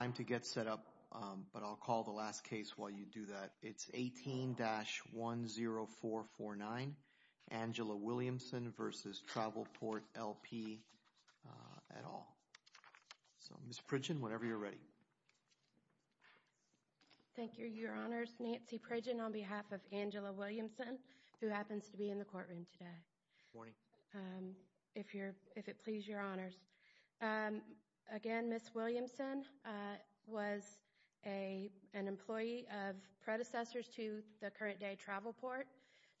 Time to get set up, but I'll call the last case while you do that. It's 18-10449, Angela Williamson v. Travelport, LP, et al. So, Ms. Pridgen, whenever you're ready. Thank you, Your Honors. Nancy Pridgen on behalf of Angela Williamson, who happens to be in the courtroom today. If it please Your Honors. Again, Ms. Williamson was an employee of predecessors to the current day Travelport.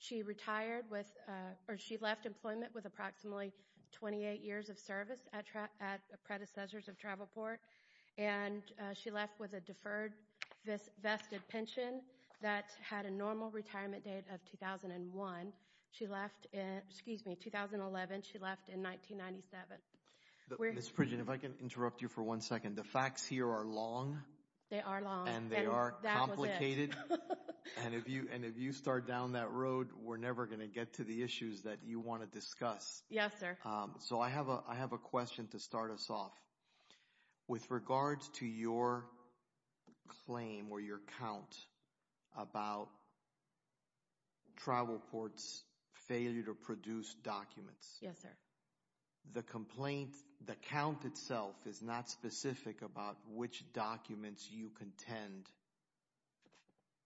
She retired with, or she left employment with approximately 28 years of service at predecessors of Travelport, and she left with a deferred vested pension that had a normal retirement date of 2001. She left in, excuse me, 2011. She left in 1997. Ms. Pridgen, if I can interrupt you for one second. The facts here are long. They are long. And they are complicated. That was it. And if you start down that road, we're never going to get to the issues that you want to discuss. Yes, sir. So, I have a question to start us off. With regards to your claim, or your count, about Travelport's failure to produce documents, the complaint, the count itself is not specific about which documents you contend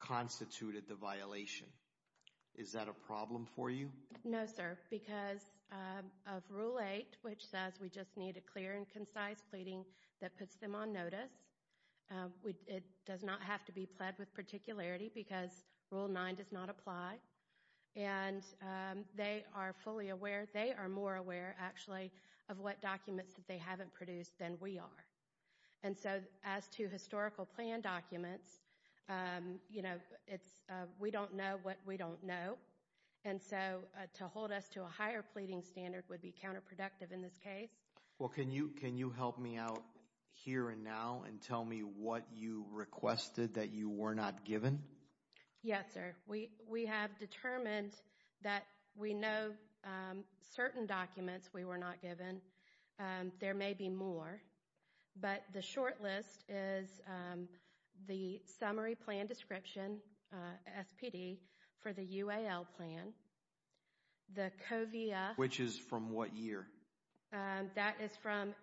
constituted the violation. Is that a problem for you? No, sir. Because of Rule 8, which says we just need a clear and concise pleading that puts them on notice. It does not have to be pled with particularity, because Rule 9 does not apply. And they are fully aware, they are more aware, actually, of what documents that they haven't produced than we are. And so, as to historical plan documents, you know, we don't know what we don't know. And so, to hold us to a higher pleading standard would be counterproductive in this case. Well, can you help me out here and now and tell me what you requested that you were not given? Yes, sir. We have determined that we know certain documents we were not given. There may be more. But the short list is the Summary Plan Description, SPD, for the UAL plan. The COVIA... Which is from what year? That is from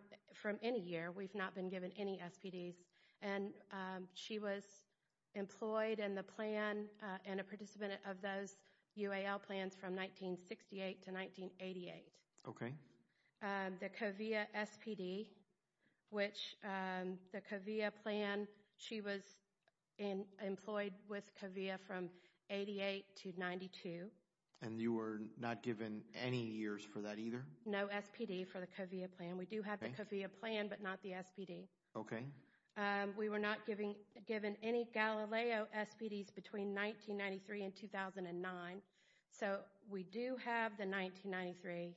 any year. We've not been given any SPDs. And she was employed in the plan and a participant of those UAL plans from 1968 to 1988. Okay. The COVIA SPD, which the COVIA plan, she was employed with COVIA from 88 to 92. And you were not given any years for that either? No SPD for the COVIA plan. We do have the COVIA plan, but not the SPD. Okay. We were not given any Galileo SPDs between 1993 and 2009. So we do have the 1993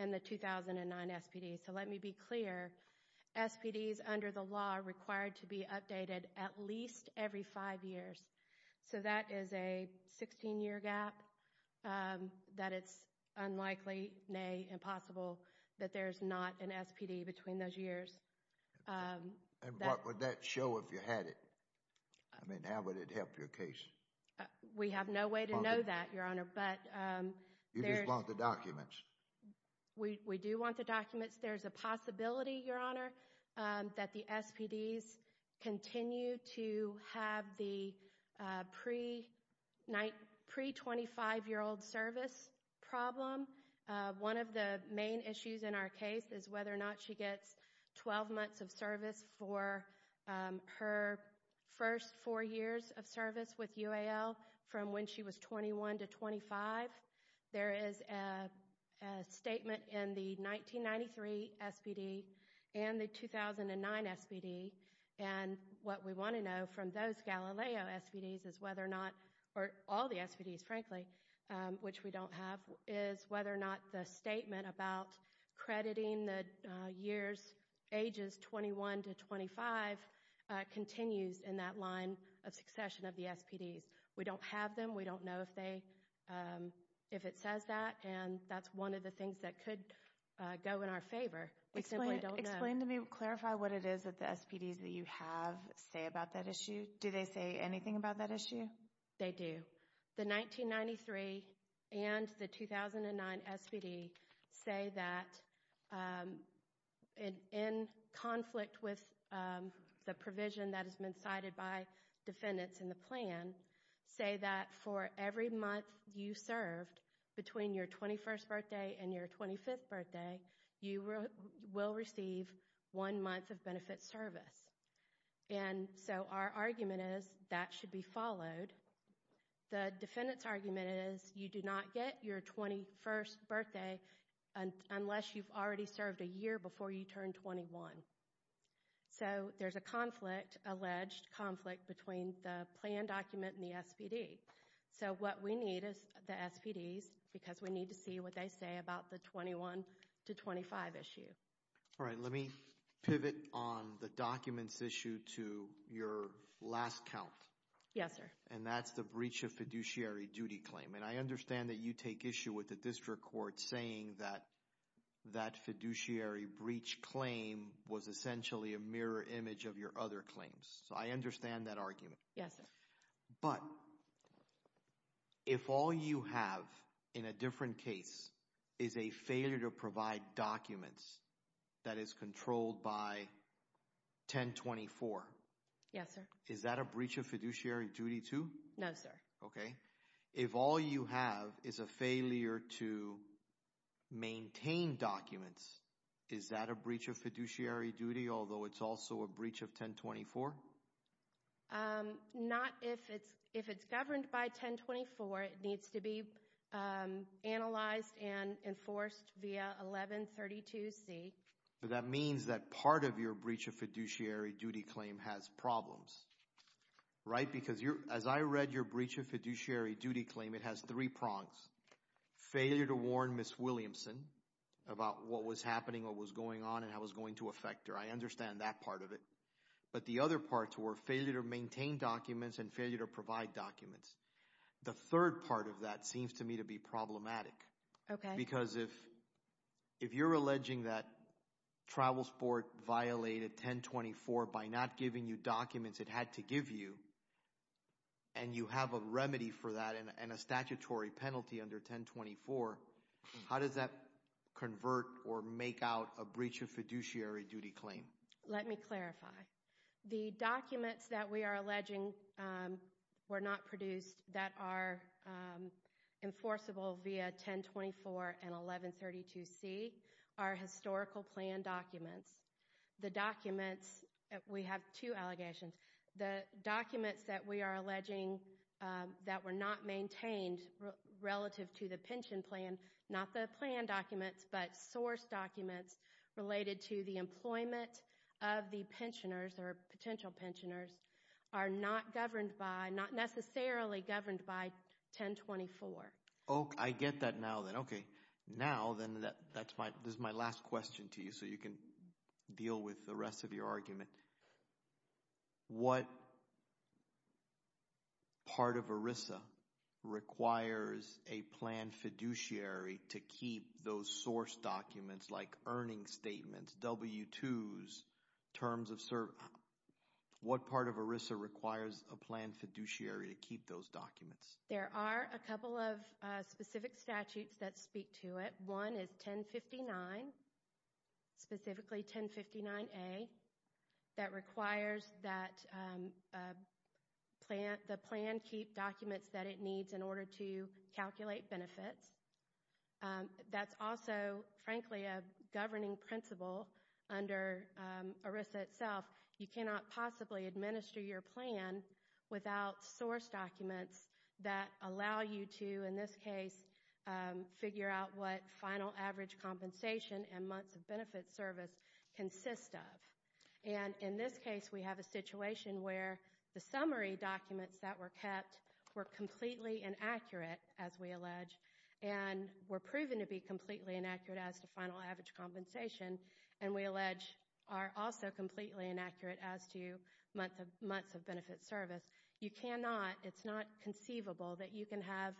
and the 2009 SPDs. So let me be clear, SPDs under the law are required to be updated at least every five years. So that is a 16-year gap that it's unlikely, nay, impossible that there's not an SPD between those years. And what would that show if you had it? I mean, how would it help your case? We have no way to know that, Your Honor. You just want the documents. We do want the documents. There's a possibility, Your Honor, that the SPDs continue to have the pre-25-year-old service problem. One of the main issues in our case is whether or not she gets 12 months of service for her first four years of service with UAL from when she was 21 to 25. There is a statement in the 1993 SPD and the 2009 SPD. And what we want to know from those Galileo SPDs is whether or not, or all the SPDs, frankly, which we don't have, is whether or not the statement about crediting the years, ages 21 to 25, continues in that line of succession of the SPDs. We don't have them. We don't know if it says that. And that's one of the things that could go in our favor. We simply don't know. Explain to me, clarify what it is that the SPDs that you have say about that issue. Do they say anything about that issue? They do. The 1993 and the 2009 SPD say that, in conflict with the provision that has been cited by defendants in the plan, say that for every month you served between your 21st birthday and your 25th birthday, you will receive one month of benefit service. And so our argument is that should be followed. The defendant's argument is you do not get your 21st birthday unless you've already served a year before you turn 21. So there's a conflict, alleged conflict, between the plan document and the SPD. So what we need is the SPDs because we need to see what they say about the 21 to 25 issue. All right, let me pivot on the documents issue to your last count. Yes, sir. And that's the breach of fiduciary duty claim. And I understand that you take issue with the district court saying that that fiduciary breach claim was essentially a mirror image of your other claims. So I understand that argument. Yes, sir. But if all you have in a different case is a failure to provide documents that is controlled by 1024. Yes, sir. Is that a breach of fiduciary duty too? No, sir. Okay. If all you have is a failure to maintain documents, is that a breach of fiduciary duty, although it's also a breach of 1024? Not if it's governed by 1024, it needs to be analyzed and enforced via 1132C. That means that part of your breach of fiduciary duty claim has problems, right? Because as I read your breach of fiduciary duty claim, it has three prongs. Failure to warn Ms. Williamson about what was happening, what was going on, and how it was going to affect her. I understand that part of it. But the other parts were failure to maintain documents and failure to provide documents. The third part of that seems to me to be problematic. Okay. Because if you're alleging that TravelSport violated 1024 by not giving you documents it had to give you, and you have a remedy for that and a statutory penalty under 1024, how does that convert or make out a breach of fiduciary duty claim? Let me clarify. The documents that we are alleging were not produced that are enforceable via 1024 and 1132C are historical plan documents. The documents, we have two allegations, the documents that we are alleging that were not maintained relative to the pension plan, not the plan documents, but source documents related to the employment of the pensioners or potential pensioners are not governed by, not necessarily governed by 1024. Oh, I get that now then. Okay. Now then, that's my, this is my last question to you so you can deal with the rest of your argument. What part of ERISA requires a plan fiduciary to keep those source documents like earning statements, W-2s, terms of, what part of ERISA requires a plan fiduciary to keep those documents? There are a couple of specific statutes that speak to it. One is 1059, specifically 1059A, that requires that the plan keep documents that it needs in order to calculate benefits. That's also, frankly, a governing principle under ERISA itself. You cannot possibly administer your plan without source documents that allow you to, in this case, figure out what final average compensation and months of benefit service consist of. And in this case, we have a situation where the summary documents that were kept were completely inaccurate, as we allege, and were proven to be completely inaccurate as to final average compensation, and we allege are also completely inaccurate as to months of benefit service. You cannot, it's not conceivable that you can have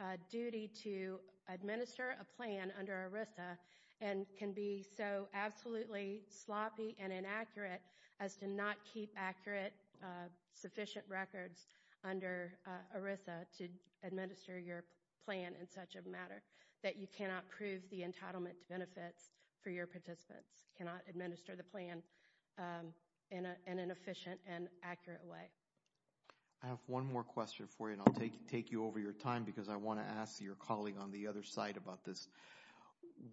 a duty to administer a plan under ERISA and can be so absolutely sloppy and inaccurate as to not keep accurate, sufficient records under ERISA to administer your plan in such a matter that you cannot prove the entitlement benefits for your participants, cannot administer the plan in an efficient and accurate way. I have one more question for you, and I'll take you over your time because I want to ask your colleague on the other side about this.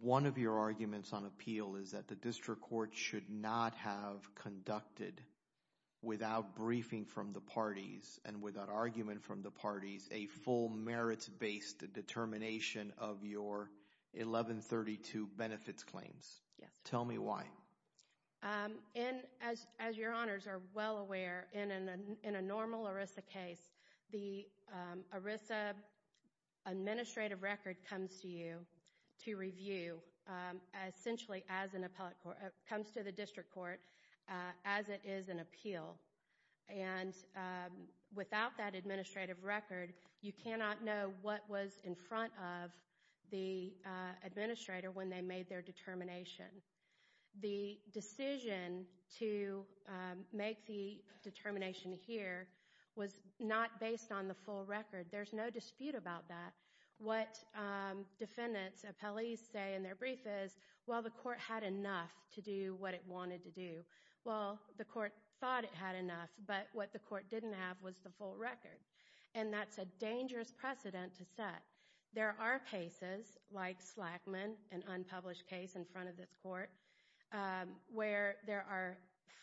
One of your arguments on appeal is that the district court should not have conducted without briefing from the parties and without argument from the parties a full merits-based determination of your 1132 benefits claims. Tell me why. In, as your honors are well aware, in a normal ERISA case, the ERISA administrative record comes to you to review essentially as an appellate court, comes to the district court as it is an appeal, and without that administrative record, you cannot know what was in front of the administrator when they made their determination. The decision to make the determination here was not based on the full record. There's no dispute about that. What defendants, appellees say in their brief is, well, the court had enough to do what it wanted to do. Well, the court thought it had enough, but what the court didn't have was the full record, and that's a dangerous precedent to set. There are cases like Slackman, an unpublished case in front of this court, where there are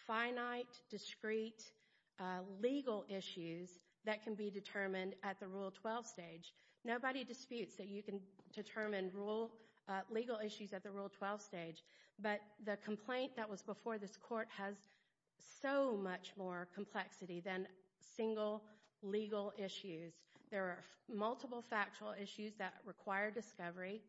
finite, discrete legal issues that can be determined at the Rule 12 stage. Nobody disputes that you can determine legal issues at the Rule 12 stage, but the complaint that was before this court has so much more complexity than single legal issues. There are multiple factual issues that require discovery,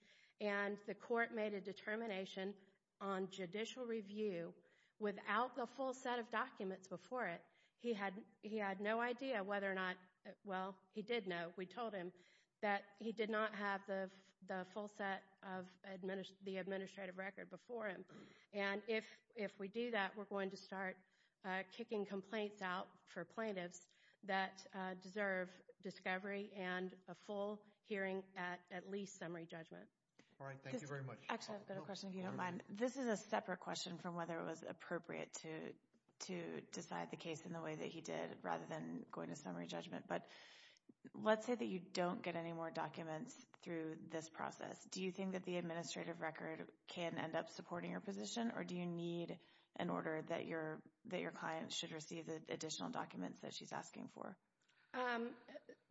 and the court made a determination on judicial review without the full set of documents before it. He had no idea whether or not, well, he did know, we told him, that he did not have the full set of the administrative record before him. And if we do that, we're going to start kicking complaints out for plaintiffs that deserve discovery and a full hearing at at least summary judgment. All right. Thank you very much. Actually, I've got a question, if you don't mind. This is a separate question from whether it was appropriate to decide the case in the way that he did, rather than going to summary judgment, but let's say that you don't get any more documents through this process. Do you think that the administrative record can end up supporting your position, or do you need an order that your client should receive the additional documents that she's asking for?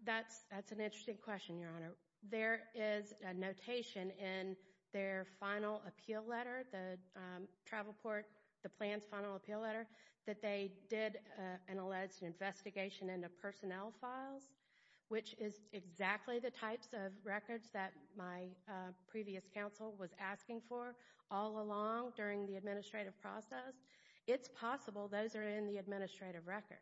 That's an interesting question, Your Honor. There is a notation in their final appeal letter, the travel court, the plan's final appeal letter, that they did an alleged investigation into personnel files, which is exactly the previous counsel was asking for all along during the administrative process. It's possible those are in the administrative record.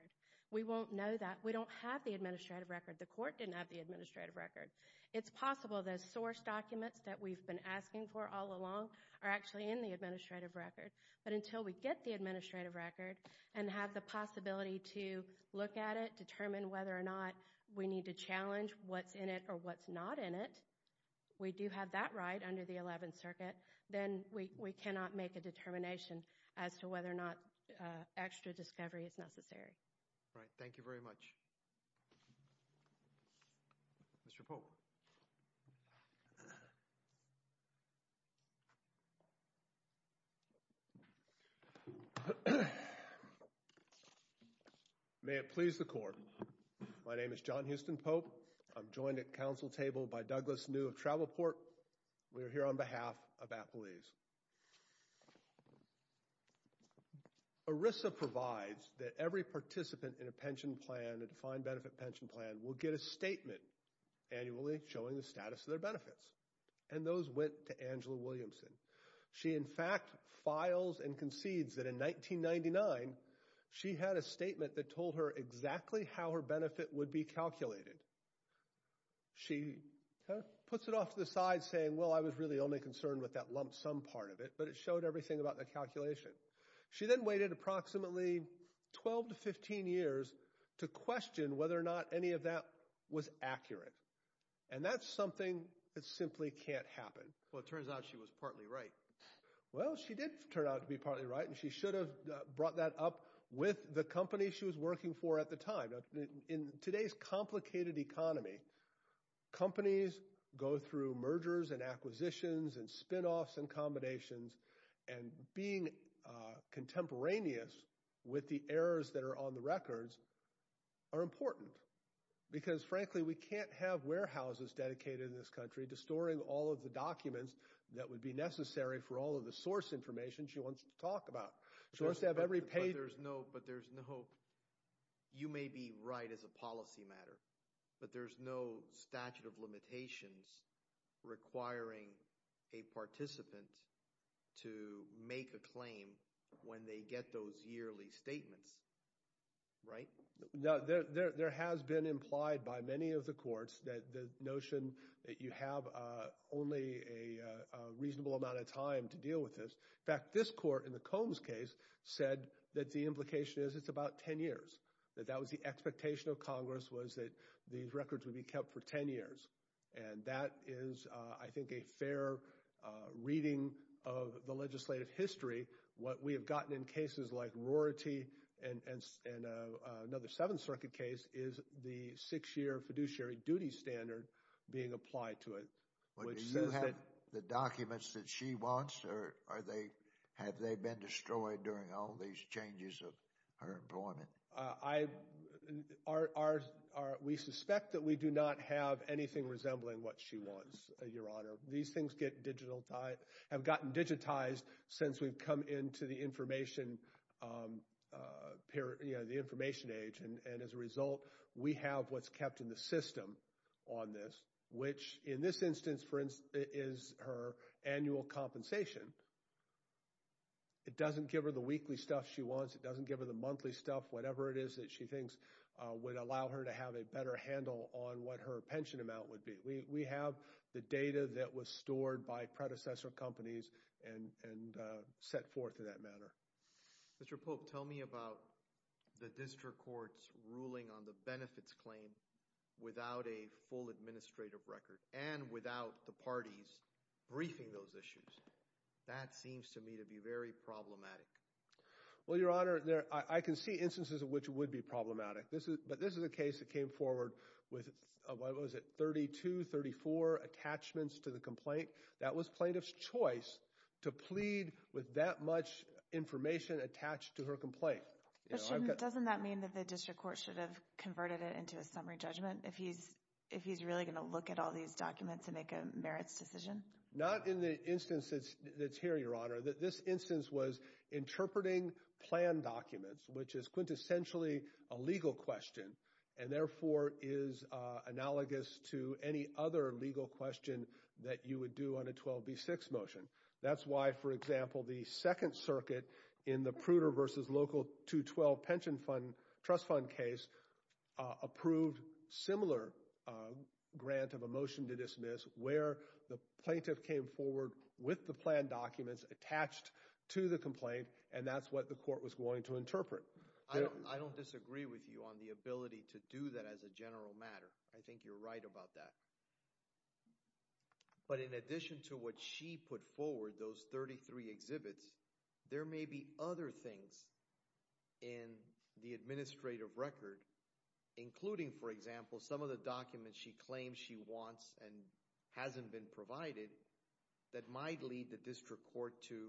We won't know that. We don't have the administrative record. The court didn't have the administrative record. It's possible those source documents that we've been asking for all along are actually in the administrative record, but until we get the administrative record and have the possibility to look at it, determine whether or not we need to challenge what's in it or what's not in it, we do have that right under the Eleventh Circuit, then we cannot make a determination as to whether or not extra discovery is necessary. Right. Thank you very much. Mr. Pope. May it please the Court. My name is John Houston Pope. I'm joined at counsel table by Douglas New of Travel Port. We are here on behalf of Appalese. ERISA provides that every participant in a pension plan, a defined benefit pension plan, will get a statement annually showing the status of their benefits, and those went to Angela Williamson. She in fact files and concedes that in 1999, she had a statement that told her exactly how her benefit would be calculated. She puts it off to the side saying, well, I was really only concerned with that lump sum part of it, but it showed everything about the calculation. She then waited approximately 12 to 15 years to question whether or not any of that was accurate, and that's something that simply can't happen. Well, it turns out she was partly right. Well, she did turn out to be partly right, and she should have brought that up with the companies she was working for at the time. In today's complicated economy, companies go through mergers and acquisitions and spinoffs and combinations, and being contemporaneous with the errors that are on the records are important because frankly, we can't have warehouses dedicated in this country to storing all of the documents that would be necessary for all of the source information she wants to talk about. She wants to have every page. But there's no... You may be right as a policy matter, but there's no statute of limitations requiring a participant to make a claim when they get those yearly statements, right? There has been implied by many of the courts that the notion that you have only a reasonable amount of time to deal with this. In fact, this court in the Combs case said that the implication is it's about 10 years, that that was the expectation of Congress was that these records would be kept for 10 years. And that is, I think, a fair reading of the legislative history. What we have gotten in cases like Rorty and another Seventh Circuit case is the six-year fiduciary duty standard being applied to it, which says that... Have they been destroyed during all these changes of her employment? We suspect that we do not have anything resembling what she wants, Your Honor. These things have gotten digitized since we've come into the information age, and as a result, we have what's kept in the system on this, which in this instance, for instance, is her annual compensation, it doesn't give her the weekly stuff she wants, it doesn't give her the monthly stuff, whatever it is that she thinks would allow her to have a better handle on what her pension amount would be. We have the data that was stored by predecessor companies and set forth in that manner. Mr. Pope, tell me about the district court's ruling on the benefits claim without a full That seems to me to be very problematic. Well, Your Honor, I can see instances in which it would be problematic, but this is a case that came forward with, what was it, 32, 34 attachments to the complaint. That was plaintiff's choice to plead with that much information attached to her complaint. Doesn't that mean that the district court should have converted it into a summary judgment if he's really going to look at all these documents and make a merits decision? Not in the instance that's here, Your Honor. This instance was interpreting plan documents, which is quintessentially a legal question and therefore is analogous to any other legal question that you would do on a 12B6 motion. That's why, for example, the Second Circuit in the Pruder v. Local 212 Pension Fund Trust came forward with the plan documents attached to the complaint, and that's what the court was going to interpret. I don't disagree with you on the ability to do that as a general matter. I think you're right about that. But in addition to what she put forward, those 33 exhibits, there may be other things in the administrative record, including, for example, some of the documents she claims she wants and hasn't been provided, that might lead the district court to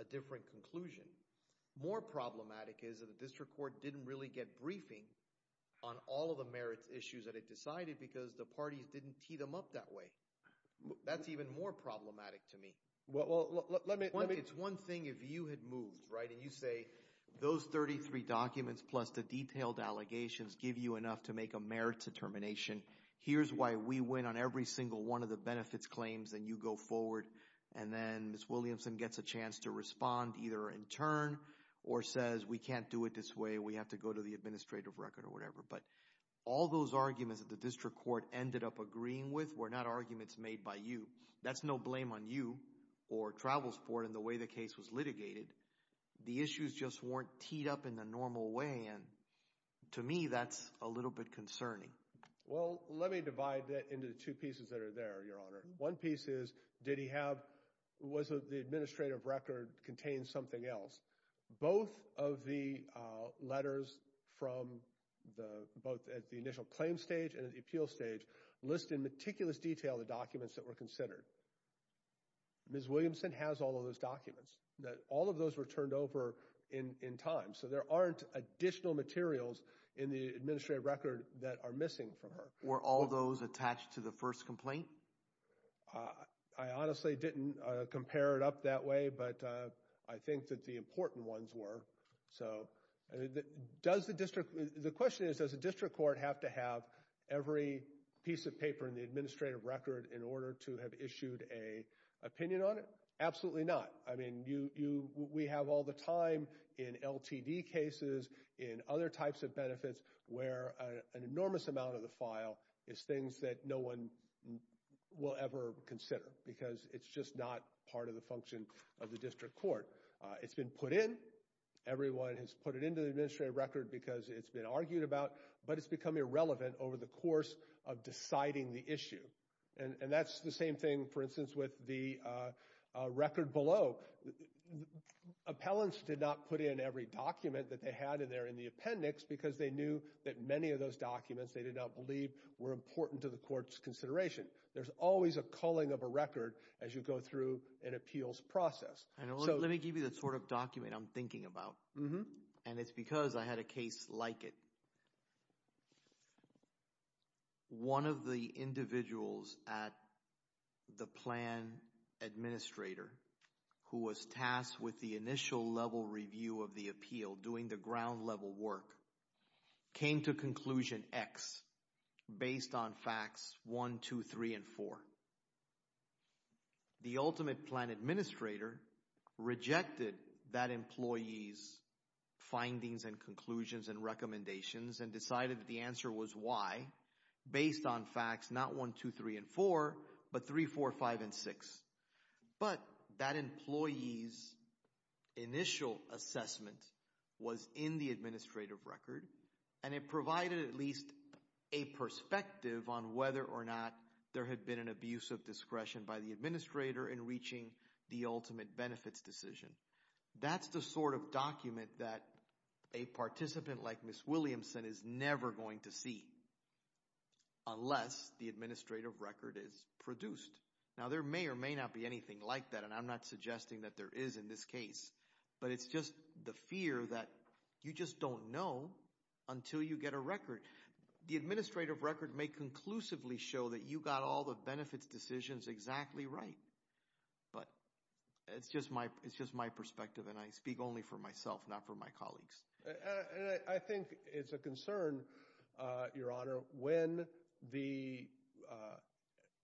a different conclusion. More problematic is that the district court didn't really get briefing on all of the merits issues that it decided because the parties didn't tee them up that way. That's even more problematic to me. It's one thing if you had moved, right, and you say, those 33 documents plus the detailed allegations give you enough to make a merit determination. Here's why we win on every single one of the benefits claims, and you go forward. And then Ms. Williamson gets a chance to respond either in turn or says, we can't do it this way. We have to go to the administrative record or whatever. But all those arguments that the district court ended up agreeing with were not arguments made by you. That's no blame on you or Travels Ford in the way the case was litigated. The issues just weren't teed up in the normal way, and to me, that's a little bit concerning. Well, let me divide that into two pieces that are there, Your Honor. One piece is, did he have, was the administrative record contain something else? Both of the letters from the, both at the initial claim stage and at the appeal stage list in meticulous detail the documents that were considered. Ms. Williamson has all of those documents. All of those were turned over in time, so there aren't additional materials in the administrative record that are missing from her. Were all those attached to the first complaint? I honestly didn't compare it up that way, but I think that the important ones were. So does the district, the question is, does the district court have to have every piece of paper in the administrative record in order to have issued an opinion on it? Absolutely not. I mean, you, we have all the time in LTD cases, in other types of benefits where an enormous amount of the file is things that no one will ever consider because it's just not part of the function of the district court. It's been put in. Everyone has put it into the administrative record because it's been argued about, but it's become irrelevant over the course of deciding the issue. And that's the same thing, for instance, with the record below. Appellants did not put in every document that they had in there in the appendix because they knew that many of those documents they did not believe were important to the court's consideration. There's always a culling of a record as you go through an appeals process. Let me give you the sort of document I'm thinking about. And it's because I had a case like it. One of the individuals at the plan administrator who was tasked with the initial level review of the appeal, doing the ground level work, came to conclusion X based on facts one, two, three, and four. However, the ultimate plan administrator rejected that employee's findings and conclusions and recommendations and decided that the answer was Y based on facts not one, two, three, and four, but three, four, five, and six. But that employee's initial assessment was in the administrative record, and it provided at least a perspective on whether or not there had been an abuse of discretion by the administrator in reaching the ultimate benefits decision. That's the sort of document that a participant like Ms. Williamson is never going to see unless the administrative record is produced. Now there may or may not be anything like that, and I'm not suggesting that there is in this case, but it's just the fear that you just don't know until you get a record. The administrative record may conclusively show that you got all the benefits decisions exactly right, but it's just my perspective and I speak only for myself, not for my colleagues. I think it's a concern, Your Honor, when the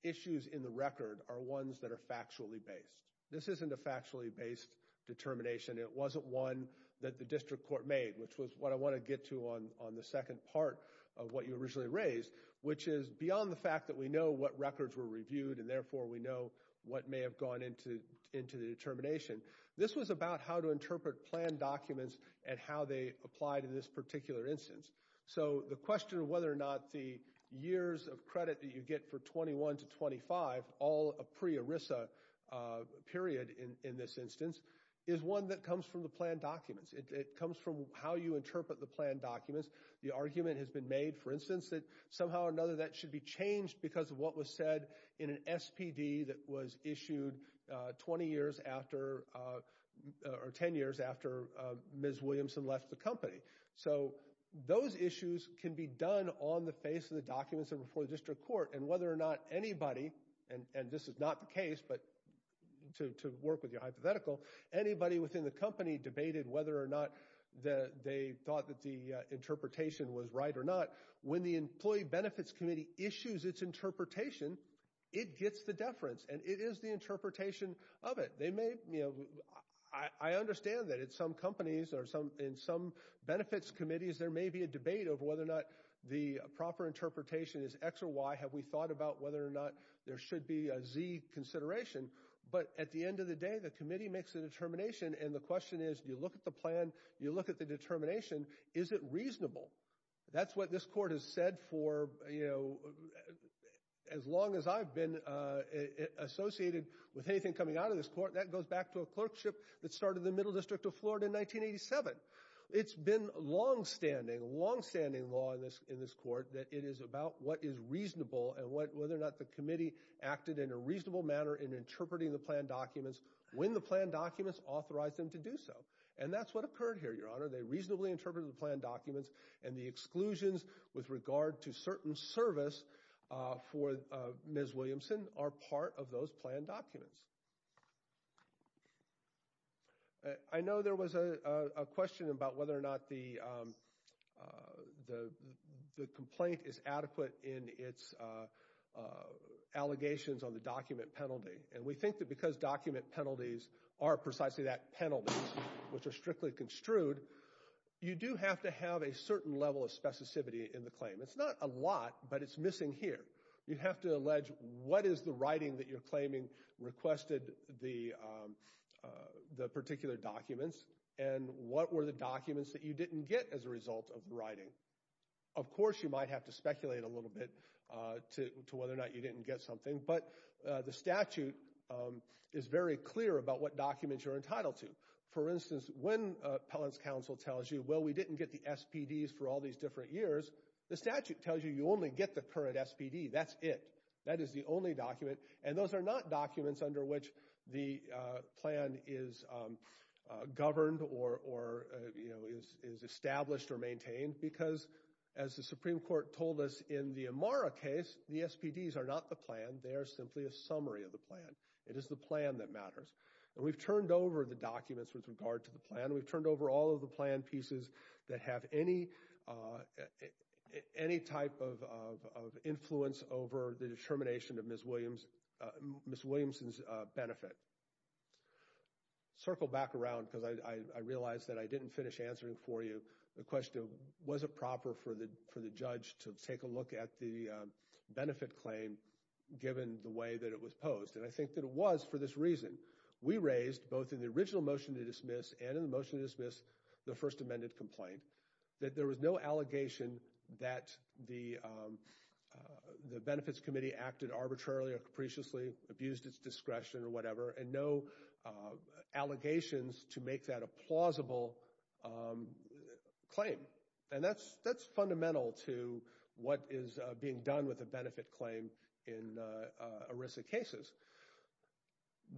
issues in the record are ones that are factually based. This isn't a factually based determination. It wasn't one that the district court made, which was what I want to get to on the second part of what you originally raised, which is beyond the fact that we know what records were reviewed and therefore we know what may have gone into the determination. This was about how to interpret plan documents and how they apply to this particular instance. So the question of whether or not the years of credit that you get for 21 to 25, all a ERISA period in this instance, is one that comes from the plan documents. It comes from how you interpret the plan documents. The argument has been made, for instance, that somehow or another that should be changed because of what was said in an SPD that was issued 20 years after, or 10 years after Ms. Williamson left the company. So those issues can be done on the face of the documents and before the district court, and whether or not anybody, and this is not the case, but to work with your hypothetical, anybody within the company debated whether or not they thought that the interpretation was right or not. When the Employee Benefits Committee issues its interpretation, it gets the deference and it is the interpretation of it. I understand that in some companies or in some benefits committees there may be a debate over whether or not the proper interpretation is X or Y. Have we thought about whether or not there should be a Z consideration? But at the end of the day, the committee makes a determination and the question is, you look at the plan, you look at the determination, is it reasonable? That's what this court has said for, you know, as long as I've been associated with anything coming out of this court. That goes back to a clerkship that started in the Middle District of Florida in 1987. It's been long-standing, long-standing law in this court that it is about what is reasonable and whether or not the committee acted in a reasonable manner in interpreting the plan documents when the plan documents authorized them to do so. And that's what occurred here, Your Honor. They reasonably interpreted the plan documents and the exclusions with regard to certain service for Ms. Williamson are part of those plan documents. I know there was a question about whether or not the complaint is adequate in its allegations on the document penalty. And we think that because document penalties are precisely that, penalties, which are strictly construed, you do have to have a certain level of specificity in the claim. It's not a lot, but it's missing here. You have to allege what is the writing that you're claiming requested the particular documents and what were the documents that you didn't get as a result of the writing. Of course, you might have to speculate a little bit to whether or not you didn't get something, but the statute is very clear about what documents you're entitled to. For instance, when an appellant's counsel tells you, well, we didn't get the SPDs for all these different years, the statute tells you you only get the current SPD. That's it. That is the only document. And those are not documents under which the plan is governed or is established or maintained because, as the Supreme Court told us in the Amara case, the SPDs are not the plan. They are simply a summary of the plan. It is the plan that matters. We've turned over the documents with regard to the plan. We've turned over all of the plan pieces that have any type of influence over the determination of Ms. Williamson's benefit. Circle back around because I realize that I didn't finish answering for you the question of was it proper for the judge to take a look at the benefit claim given the way that it was posed. And I think that it was for this reason. We raised, both in the original motion to dismiss and in the motion to dismiss the First Amendment complaint, that there was no allegation that the Benefits Committee acted arbitrarily or capriciously, abused its discretion or whatever, and no allegations to make that a plausible claim. And that's fundamental to what is being done with a benefit claim in ERISA cases.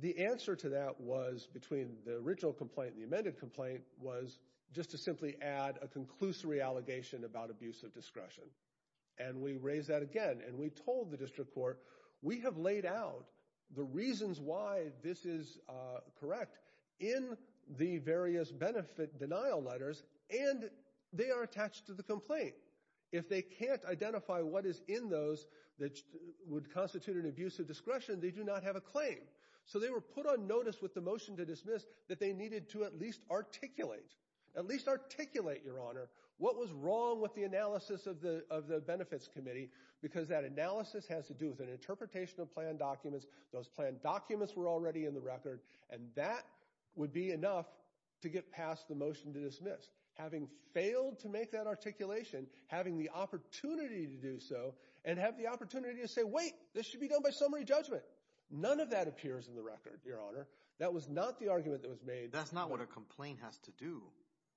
The answer to that was, between the original complaint and the amended complaint, was just to simply add a conclusory allegation about abuse of discretion. And we raised that again. And we told the district court, we have laid out the reasons why this is correct in the various benefit denial letters, and they are attached to the complaint. If they can't identify what is in those that would constitute an abuse of discretion, they do not have a claim. So they were put on notice with the motion to dismiss that they needed to at least articulate, at least articulate, Your Honor, what was wrong with the analysis of the Benefits Committee. Because that analysis has to do with an interpretation of planned documents. Those planned documents were already in the record. And that would be enough to get past the motion to dismiss. Having failed to make that articulation, having the opportunity to do so, and have the opportunity to say, wait, this should be done by summary judgment. None of that appears in the record, Your Honor. That was not the argument that was made. That's not what a complaint has to do.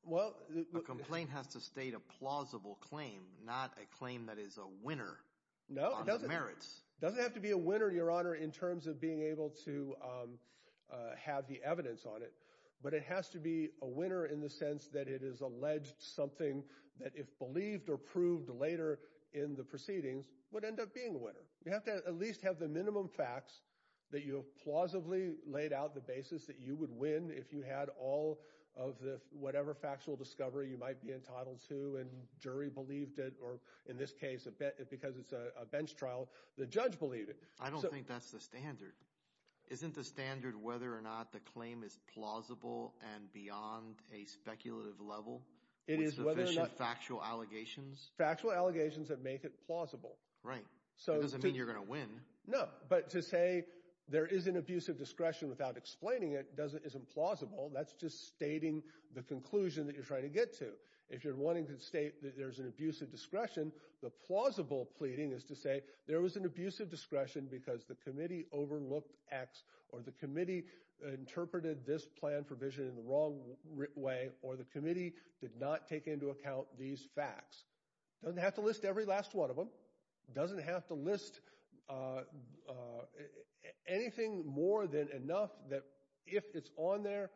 Well, the complaint has to state a plausible claim, not a claim that is a winner on the merits. It doesn't have to be a winner, Your Honor, in terms of being able to have the evidence on it. But it has to be a winner in the sense that it is alleged something that if believed or You have to at least have the minimum facts that you have plausibly laid out the basis that you would win if you had all of the whatever factual discovery you might be entitled to and jury believed it, or in this case, because it's a bench trial, the judge believed it. I don't think that's the standard. Isn't the standard whether or not the claim is plausible and beyond a speculative level with sufficient factual allegations? Factual allegations that make it plausible. Right. It doesn't mean you're going to win. No, but to say there is an abuse of discretion without explaining it isn't plausible. That's just stating the conclusion that you're trying to get to. If you're wanting to state that there's an abuse of discretion, the plausible pleading is to say there was an abuse of discretion because the committee overlooked X, or the committee interpreted this plan for vision in the wrong way, or the committee did not take into account these facts. It doesn't have to list every last one of them. Doesn't have to list anything more than enough that if it's on there,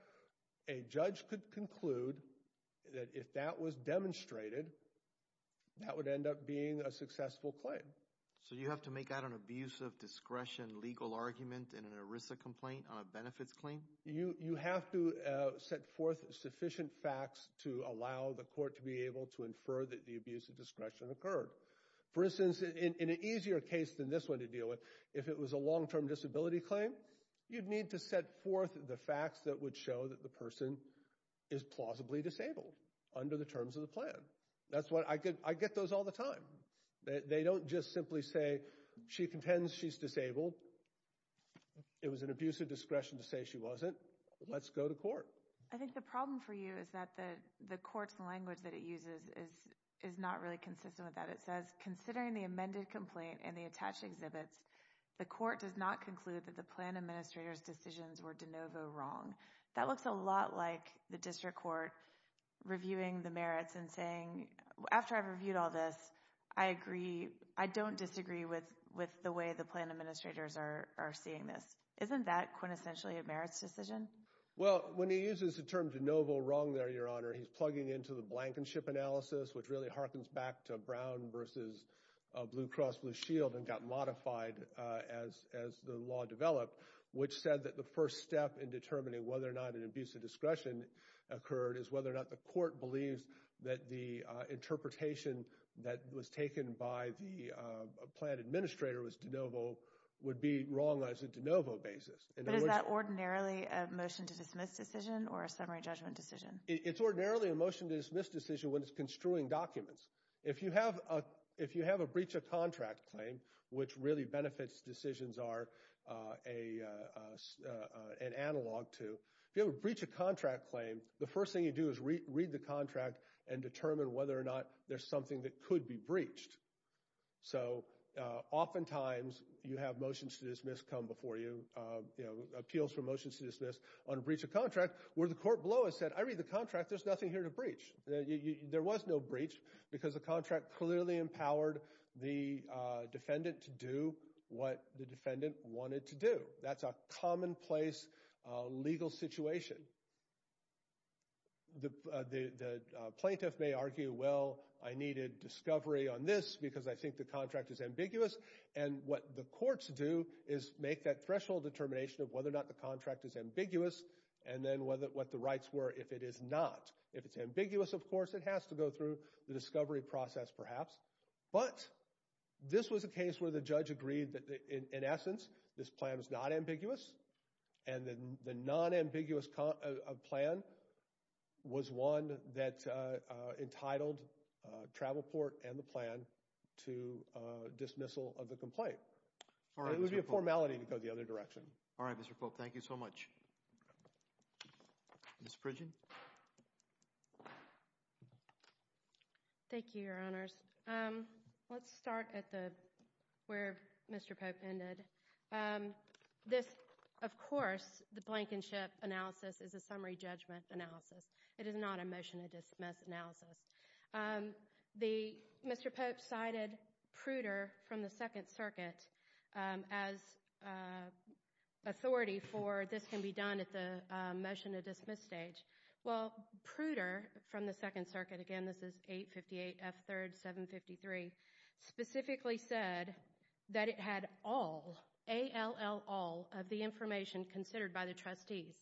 a judge could conclude that if that was demonstrated, that would end up being a successful claim. So you have to make out an abuse of discretion legal argument in an ERISA complaint on a benefits claim? You have to set forth sufficient facts to allow the court to be able to infer that the abuse of discretion occurred. For instance, in an easier case than this one to deal with, if it was a long-term disability claim, you'd need to set forth the facts that would show that the person is plausibly disabled under the terms of the plan. That's why I get those all the time. They don't just simply say, she contends she's disabled. It was an abuse of discretion to say she wasn't. Let's go to court. I think the problem for you is that the court's language that it uses is not really consistent with that. It says, considering the amended complaint and the attached exhibits, the court does not conclude that the plan administrator's decisions were de novo wrong. That looks a lot like the district court reviewing the merits and saying, after I've reviewed all this, I agree, I don't disagree with the way the plan administrators are seeing this. Isn't that quintessentially a merits decision? Well, when he uses the term de novo wrong there, Your Honor, he's plugging into the blankenship analysis, which really harkens back to Brown versus Blue Cross Blue Shield and got modified as the law developed, which said that the first step in determining whether or not an abuse of discretion occurred is whether or not the court believes that the interpretation that was taken by the plan administrator was de novo would be wrong on a de novo basis. But is that ordinarily a motion to dismiss decision or a summary judgment decision? It's ordinarily a motion to dismiss decision when it's construing documents. If you have a breach of contract claim, which really benefits decisions are an analog to, if you have a breach of contract claim, the first thing you do is read the contract and determine whether or not there's something that could be breached. So oftentimes you have motions to dismiss come before you, appeals for motions to dismiss on a breach of contract where the court below has said, I read the contract, there's nothing here to breach. There was no breach because the contract clearly empowered the defendant to do what the defendant wanted to do. That's a commonplace legal situation. The plaintiff may argue, well, I needed discovery on this because I think the contract is ambiguous. And what the courts do is make that threshold determination of whether or not the contract is ambiguous and then what the rights were if it is not. If it's ambiguous, of course, it has to go through the discovery process perhaps. But this was a case where the judge agreed that in essence, this plan is not ambiguous and then the non-ambiguous plan was one that entitled Travelport and the plan to dismissal of the complaint. It would be a formality to go the other direction. All right, Mr. Polk, thank you so much. Ms. Fridgen? Thank you, Your Honors. Let's start at where Mr. Polk ended. Of course, the blankenship analysis is a summary judgment analysis. It is not a motion to dismiss analysis. Mr. Polk cited Pruder from the Second Circuit as authority for this can be done at the motion to dismiss stage. Well, Pruder from the Second Circuit, again, this is 858 F3rd 753, specifically said that it had all, A-L-L, all of the information considered by the trustees.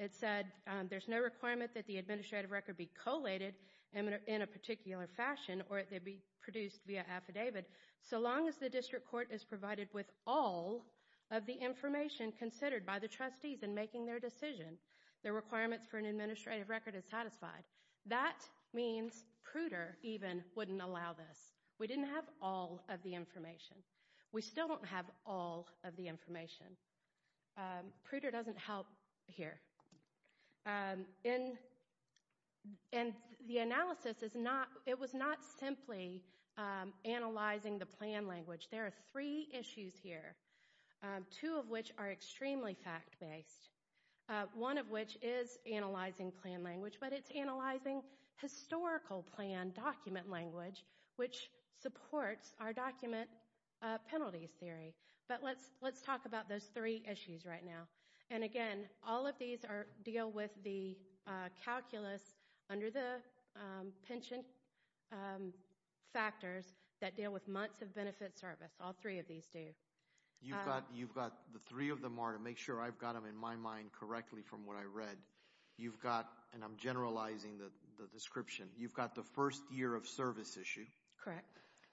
It said there's no requirement that the administrative record be collated in a particular fashion or it be produced via affidavit so long as the district court is provided with all of the information considered by the trustees in making their decision. The requirements for an administrative record is satisfied. That means Pruder even wouldn't allow this. We didn't have all of the information. We still don't have all of the information. Pruder doesn't help here. And the analysis is not, it was not simply analyzing the plan language. There are three issues here. Two of which are extremely fact-based. One of which is analyzing plan language, but it's analyzing historical plan document language which supports our document penalties theory. But let's talk about those three issues right now. And again, all of these deal with the calculus under the pension factors that deal with months of benefit service. All three of these do. You've got the three of them are to make sure I've got them in my mind correctly from what I read. You've got, and I'm generalizing the description. You've got the first year of service issue. Correct.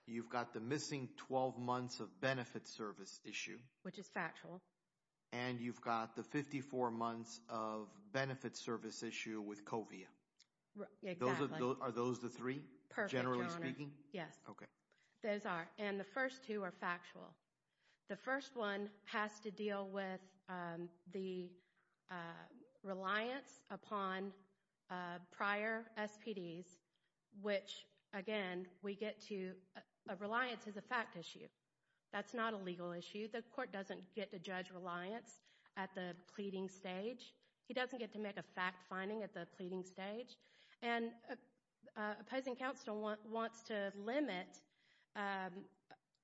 You've got the missing 12 months of benefit service issue. Which is factual. And you've got the 54 months of benefit service issue with COVIA. Exactly. Are those the three? Perfect. Generally speaking? Yes. Okay. Those are. And the first two are factual. The first one has to deal with the reliance upon prior SPDs, which again, we get to, reliance is a fact issue. That's not a legal issue. The court doesn't get to judge reliance at the pleading stage. He doesn't get to make a fact finding at the pleading stage. And opposing counsel wants to limit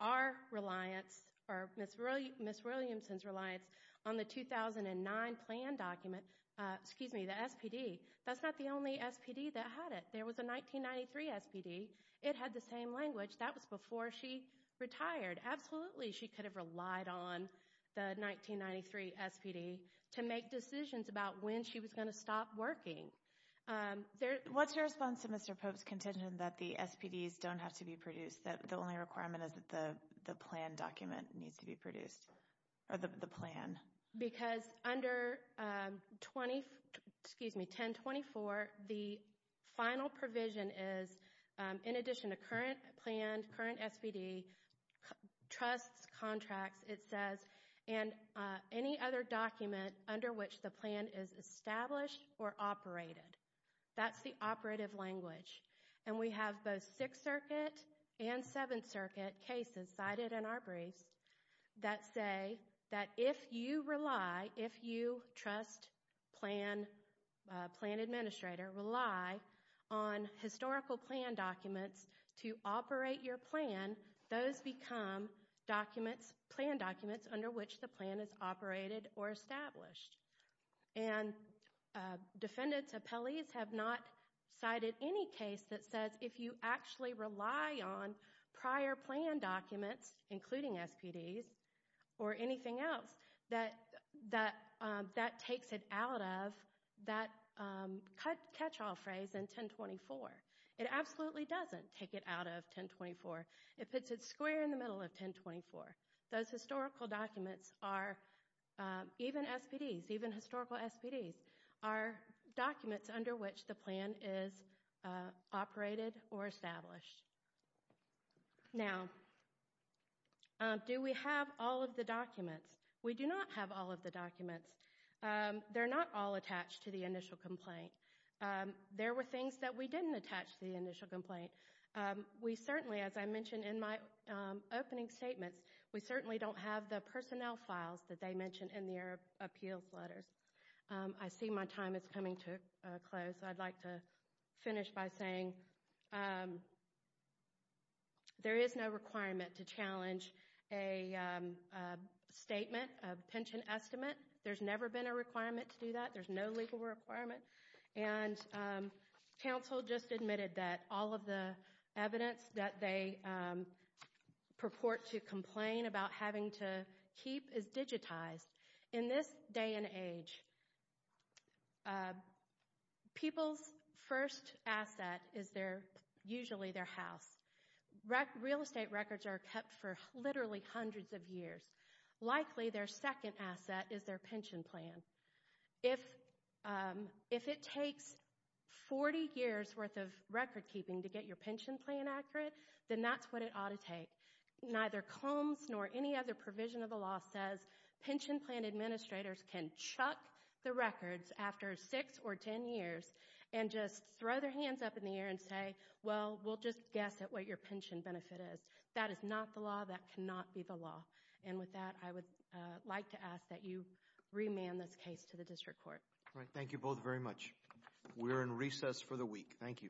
our reliance, or Ms. Williamson's reliance on the 2009 plan document, excuse me, the SPD. That's not the only SPD that had it. There was a 1993 SPD. It had the same language. That was before she retired. Absolutely, she could have relied on the 1993 SPD to make decisions about when she was going to stop working. What's your response to Mr. Pope's contention that the SPDs don't have to be produced, that the only requirement is that the plan document needs to be produced, or the plan? Because under 1024, the final provision is, in addition to current plan, current SPD, trusts, contracts, it says, and any other document under which the plan is established or operated. That's the operative language. And we have both Sixth Circuit and Seventh Circuit cases cited in our briefs that say that if you rely, if you trust plan administrator, rely on historical plan documents to operate your plan, those become documents, plan documents, under which the plan is operated or established. And defendant's appellees have not cited any case that says if you actually rely on prior plan documents, including SPDs, or anything else, that that takes it out of that catch-all phrase in 1024. It absolutely doesn't take it out of 1024. It puts it square in the middle of 1024. Those historical documents are, even SPDs, even historical SPDs, are documents under which the plan is operated or established. Now, do we have all of the documents? We do not have all of the documents. They're not all attached to the initial complaint. There were things that we didn't attach to the initial complaint. We certainly, as I mentioned in my opening statements, we certainly don't have the personnel files that they mentioned in their appeals letters. I see my time is coming to a close. I'd like to finish by saying there is no requirement to challenge a statement, a pension estimate. There's never been a requirement to do that. There's no legal requirement. Council just admitted that all of the evidence that they purport to complain about having to keep is digitized. In this day and age, people's first asset is usually their house. Real estate records are kept for literally hundreds of years. Likely, their second asset is their pension plan. If it takes 40 years worth of record keeping to get your pension plan accurate, then that's what it ought to take. Neither Combs nor any other provision of the law says pension plan administrators can chuck the records after six or ten years and just throw their hands up in the air and say, well, we'll just guess at what your pension benefit is. That is not the law. That cannot be the law. With that, I would like to ask that you remand this case to the district court. Thank you both very much. We are in recess for the week. Thank you. All rise.